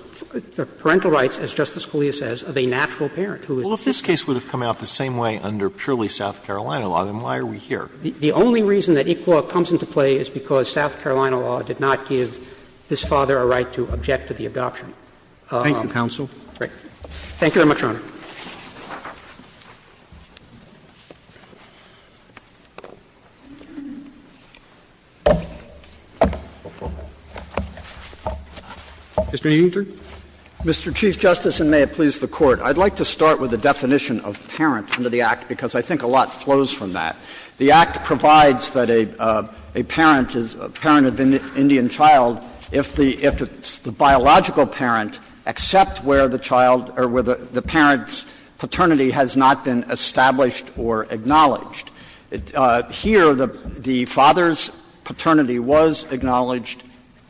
Parental rights, as Justice Scalia says, of a natural parent who is. Well, if this case would have come out the same way under purely South Carolina law, then why are we here? The only reason that ICWA comes into play is because South Carolina law did not give this father a right to object to the adoption. Thank you, counsel. Thank you very much, Your Honor. Mr. Eutner. Mr. Chief Justice, and may it please the Court. I'd like to start with the definition of parent under the Act, because I think a lot flows from that. The Act provides that a parent is a parent of an Indian child if the biological parent except where the child or where the parent's paternity has not been established or acknowledged. Here, the father's paternity was acknowledged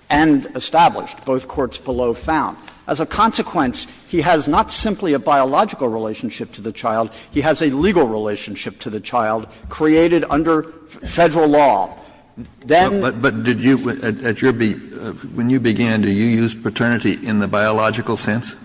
and established, both courts below found. As a consequence, he has not simply a biological relationship to the child, he has a legal relationship to the child created under Federal law. Then. But did you, at your, when you began, do you use paternity in the biological sense?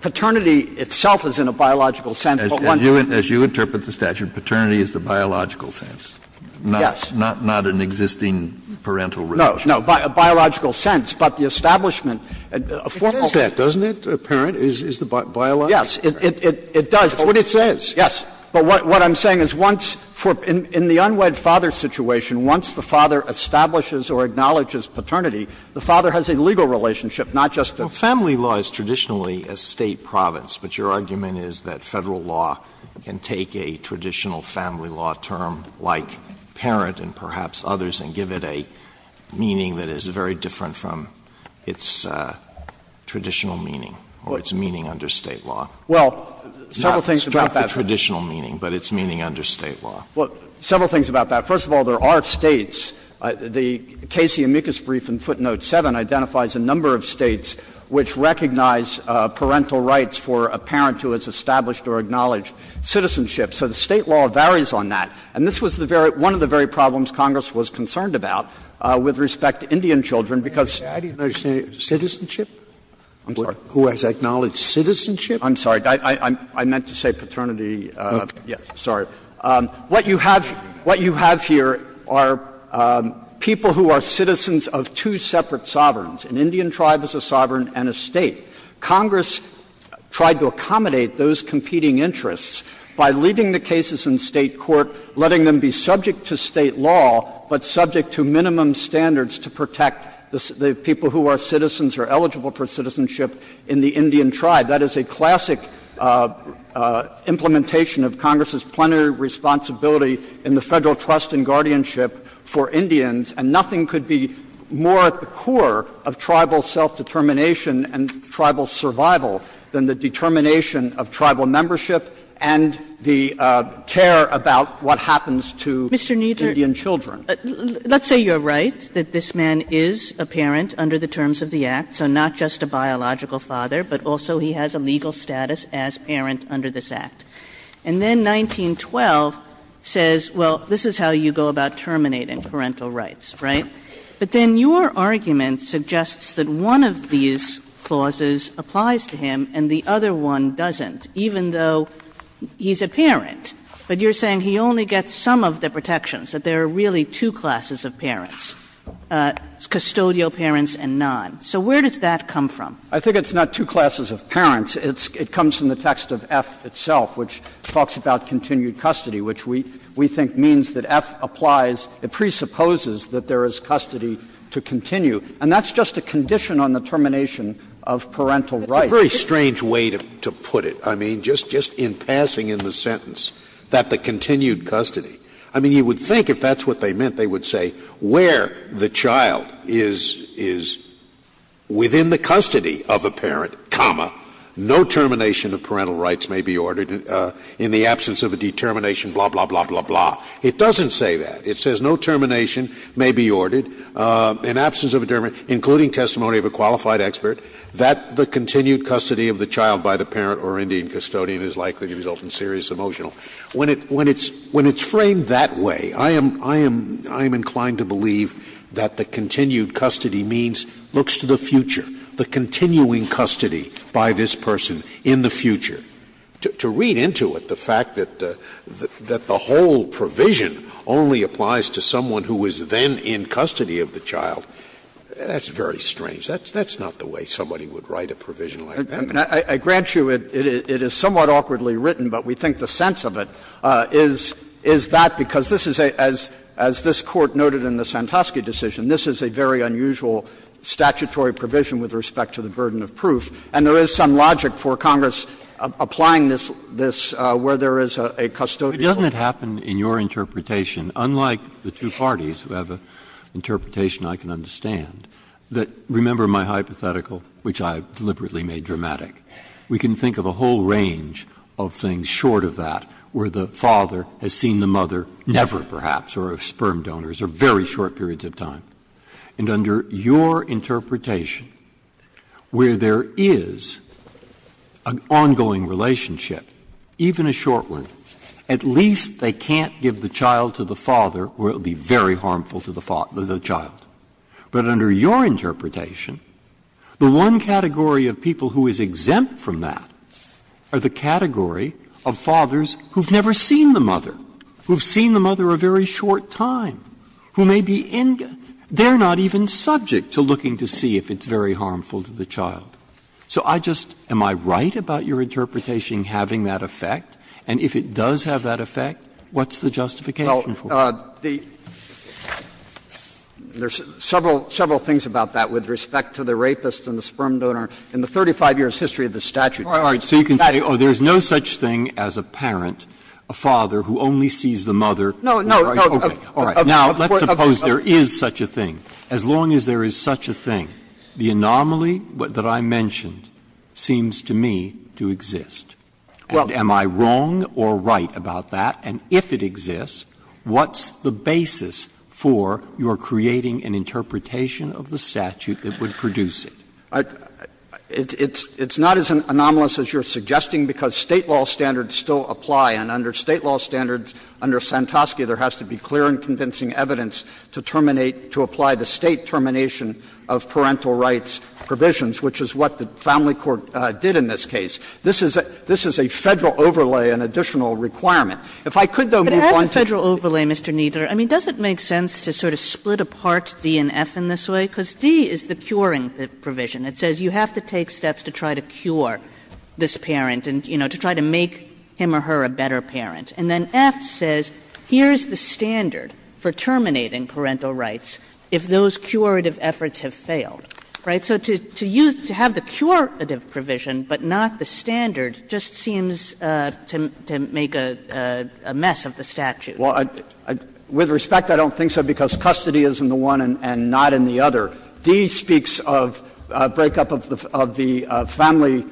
Paternity itself is in a biological sense, but one. As you interpret the statute, paternity is the biological sense. Yes. Not an existing parental relationship. No, no, biological sense, but the establishment. It says that, doesn't it, a parent is the biological parent? Yes, it does. That's what it says. Yes. But what I'm saying is once, in the unwed father situation, once the father establishes or acknowledges paternity, the father has a legal relationship, not just a. Family law is traditionally a State province, but your argument is that Federal law can take a traditional family law term like parent and perhaps others and give it a meaning that is very different from its traditional meaning or its meaning under State law. Well, several things about that. First of all, there are States. The Casey-Amicus brief in footnote 7 identifies a number of States which recognize parental rights for a parent who has established or acknowledged citizenship. So the State law varies on that. And this was the very, one of the very problems Congress was concerned about with respect to Indian children, because. Scalia, I didn't understand. Citizenship? I'm sorry. Who has acknowledged citizenship? I'm sorry. I meant to say paternity. Yes, sorry. What you have here are people who are citizens of two separate sovereigns. An Indian tribe is a sovereign and a State. Congress tried to accommodate those competing interests by leaving the cases in State court, letting them be subject to State law, but subject to minimum standards to protect the people who are citizens or eligible for citizenship in the Indian tribe. That is a classic implementation of Congress's plenary responsibility in the Federal Trust and Guardianship for Indians, and nothing could be more at the core of tribal self-determination and tribal survival than the determination of tribal membership and the care about what happens to Indian children. Mr. Kneedler, let's say you are right that this man is a parent under the terms of the Act, so not just a biological father, but also he has a legal status as parent under this Act. And then 1912 says, well, this is how you go about terminating parental rights, right? But then your argument suggests that one of these clauses applies to him and the other one doesn't, even though he's a parent. But you're saying he only gets some of the protections, that there are really two So where does that come from? I think it's not two classes of parents. It comes from the text of F itself, which talks about continued custody, which we think means that F applies, it presupposes that there is custody to continue. And that's just a condition on the termination of parental rights. It's a very strange way to put it. I mean, just in passing in the sentence that the continued custody. I mean, you would think if that's what they meant, they would say where the child is within the custody of a parent, comma, no termination of parental rights may be ordered in the absence of a determination, blah, blah, blah, blah, blah. It doesn't say that. It says no termination may be ordered in absence of a determination, including testimony of a qualified expert, that the continued custody of the child by the parent or Indian custodian is likely to result in serious emotional. When it's framed that way, I am inclined to believe that the continued custody means looks to the future, the continuing custody by this person in the future. To read into it the fact that the whole provision only applies to someone who is then in custody of the child, that's very strange. That's not the way somebody would write a provision like that. I mean, I grant you it is somewhat awkwardly written, but we think the sense of it is that because this is a, as this Court noted in the Santosky decision, this is a very unusual statutory provision with respect to the burden of proof, and there is some logic for Congress applying this where there is a custodian. Breyer. But doesn't it happen in your interpretation, unlike the two parties who have an interpretation I can understand, that, remember my hypothetical, which I deliberately made dramatic, we can think of a whole range of things short of that, where the father has seen the mother never, perhaps, or of sperm donors, or very short periods of time. And under your interpretation, where there is an ongoing relationship, even a short one, at least they can't give the child to the father, where it would be very harmful to the child. But under your interpretation, the one category of people who is exempt from that are the category of fathers who have never seen the mother, who have seen the mother a very short time, who may be in the end, they are not even subject to looking to see if it's very harmful to the child. So I just, am I right about your interpretation having that effect? And if it does have that effect, what's the justification for it? There's several things about that with respect to the rapist and the sperm donor in the 35 years' history of the statute. Breyer, so you can say, oh, there's no such thing as a parent, a father, who only sees the mother. No, no, no. Okay. Now, let's suppose there is such a thing. As long as there is such a thing, the anomaly that I mentioned seems to me to exist. Well, am I wrong or right about that? And if it exists, what's the basis for your creating an interpretation of the statute that would produce it? It's not as anomalous as you're suggesting, because State law standards still apply. And under State law standards, under Santosky, there has to be clear and convincing evidence to terminate, to apply the State termination of parental rights provisions, which is what the family court did in this case. This is a Federal overlay, an additional requirement. If I could, though, move on to the next point. Kagan But as a Federal overlay, Mr. Kneedler, I mean, does it make sense to sort of split apart D and F in this way? Because D is the curing provision. It says you have to take steps to try to cure this parent and, you know, to try to make him or her a better parent. And then F says here's the standard for terminating parental rights if those curative efforts have failed, right? So to use to have the curative provision, but not the standard, just seems to make a mess of the statute. Kneedler, With respect, I don't think so, because custody is in the one and not in the other. D speaks of a breakup of the family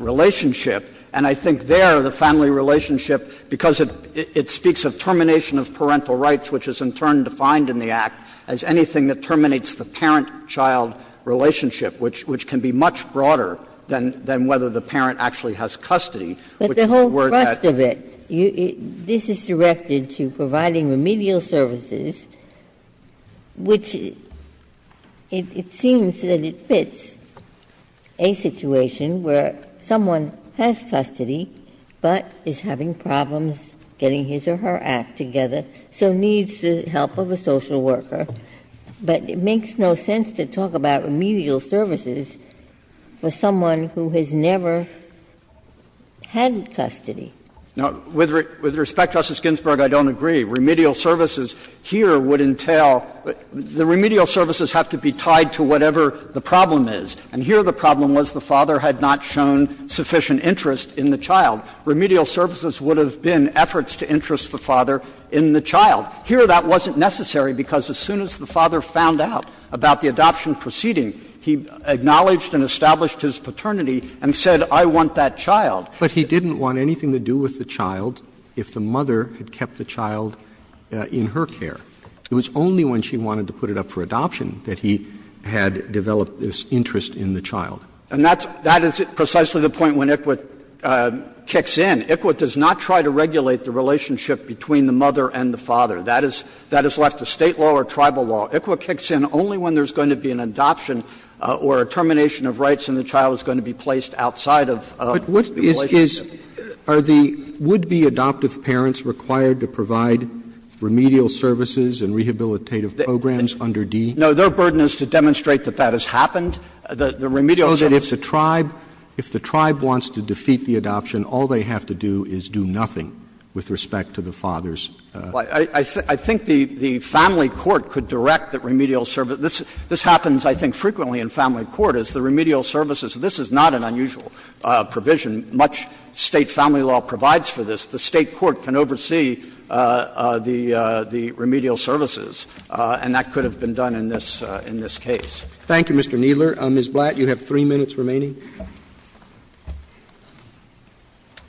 relationship, and I think there the family relationship, because it speaks of termination of parental rights, which is in turn defined in the Act as anything that terminates the parent-child relationship, which can be much broader than whether the parent actually has custody. Ginsburg, But the whole thrust of it, this is directed to providing remedial services, which it seems that it fits a situation where someone has custody, but is having problems getting his or her act together, so needs the help of a social worker, but it makes no sense to talk about remedial services for someone who has never had custody. Kneedler, With respect, Justice Ginsburg, I don't agree. Remedial services here would entail the remedial services have to be tied to whatever the problem is. And here the problem was the father had not shown sufficient interest in the child. Remedial services would have been efforts to interest the father in the child. Here that wasn't necessary, because as soon as the father found out about the adoption proceeding, he acknowledged and established his paternity and said, I want that child. But he didn't want anything to do with the child if the mother had kept the child in her care. It was only when she wanted to put it up for adoption that he had developed this interest in the child. And that's the point when ICWT kicks in. ICWT does not try to regulate the relationship between the mother and the father. That is left to State law or tribal law. ICWT kicks in only when there's going to be an adoption or a termination of rights and the child is going to be placed outside of the relationship. Roberts, Are the would-be adoptive parents required to provide remedial services and rehabilitative programs under D? Kneedler, No. Their burden is to demonstrate that that has happened, the remedial services. Roberts, So if the tribe wants to defeat the adoption, all they have to do is do nothing with respect to the father's? Kneedler, I think the family court could direct the remedial service. This happens, I think, frequently in family court, is the remedial services. This is not an unusual provision. Much State family law provides for this. The State court can oversee the remedial services, and that could have been done in this case. Roberts, Thank you, Mr. Kneedler. Ms. Blatt, you have 3 minutes remaining.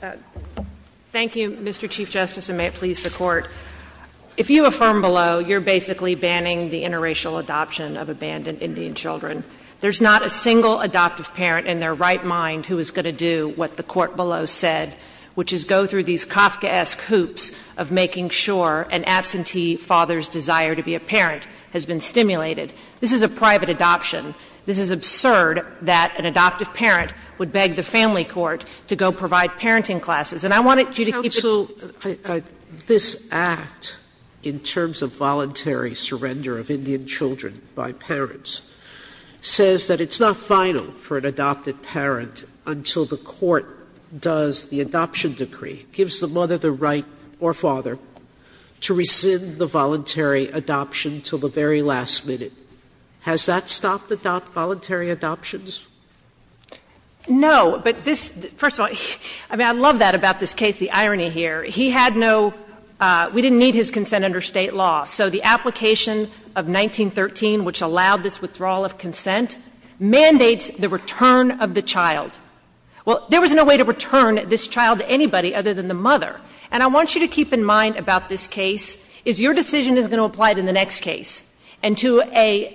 Blatt, Thank you, Mr. Chief Justice, and may it please the Court. If you affirm below, you're basically banning the interracial adoption of abandoned Indian children. There's not a single adoptive parent in their right mind who is going to do what the Court below said, which is go through these Kafkaesque hoops of making sure an absentee father's desire to be a parent has been stimulated. This is a private adoption. This is absurd that an adoptive parent would beg the family court to go provide parenting classes. And I wanted you to keep it. Sotomayor, this Act, in terms of voluntary surrender of Indian children by parents, says that it's not final for an adopted parent until the court does the adoption decree, gives the mother the right or father to rescind the voluntary adoption until the very last minute. Has that stopped the voluntary adoptions? Blatt No, but this – first of all, I mean, I love that about this case, the irony here. He had no – we didn't need his consent under State law. So the application of 1913, which allowed this withdrawal of consent, mandates the return of the child. Well, there was no way to return this child to anybody other than the mother. And I want you to keep in mind about this case is your decision is going to apply to the next case, and to an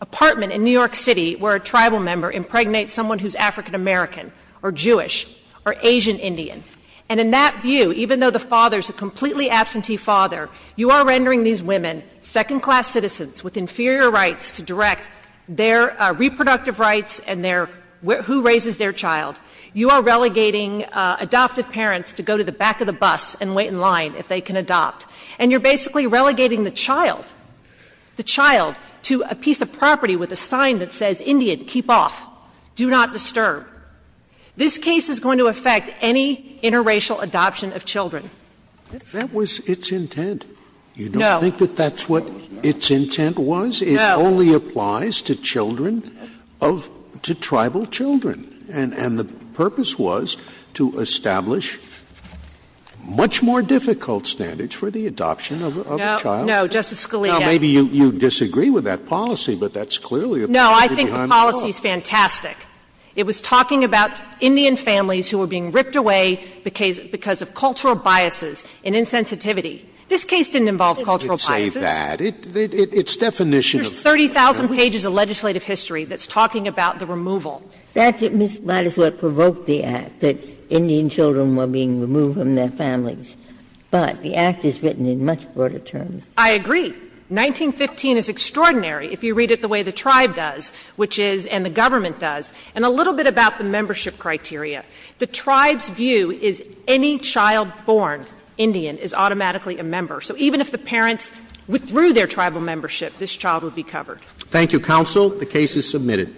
apartment in New York City where a tribal member impregnates someone who's African American or Jewish or Asian Indian. And in that view, even though the father's a completely absentee father, you are rendering these women second-class citizens with inferior rights to direct their reproductive rights and their – who raises their child. You are relegating adoptive parents to go to the back of the bus and wait in line if they can adopt. And you're basically relegating the child, the child, to a piece of property with a sign that says, Indian, keep off, do not disturb. This case is going to affect any interracial adoption of children. Scalia. That was its intent. No. You don't think that that's what its intent was? No. It only applies to children of – to tribal children. And the purpose was to establish much more difficult standards for the adoption of a child? No, Justice Scalia. Now, maybe you disagree with that policy, but that's clearly a policy behind the law. No, I think the policy is fantastic. It was talking about Indian families who were being ripped away because of cultural biases and insensitivity. This case didn't involve cultural biases. It didn't say that. It's definition of – There's 30,000 pages of legislative history that's talking about the removal. That's what provoked the Act, that Indian children were being removed from their families. But the Act is written in much broader terms. I agree. 1915 is extraordinary, if you read it the way the tribe does, which is, and the government does, and a little bit about the membership criteria. The tribe's view is any child born Indian is automatically a member. So even if the parents withdrew their tribal membership, this child would be covered. Thank you, counsel. The case is submitted.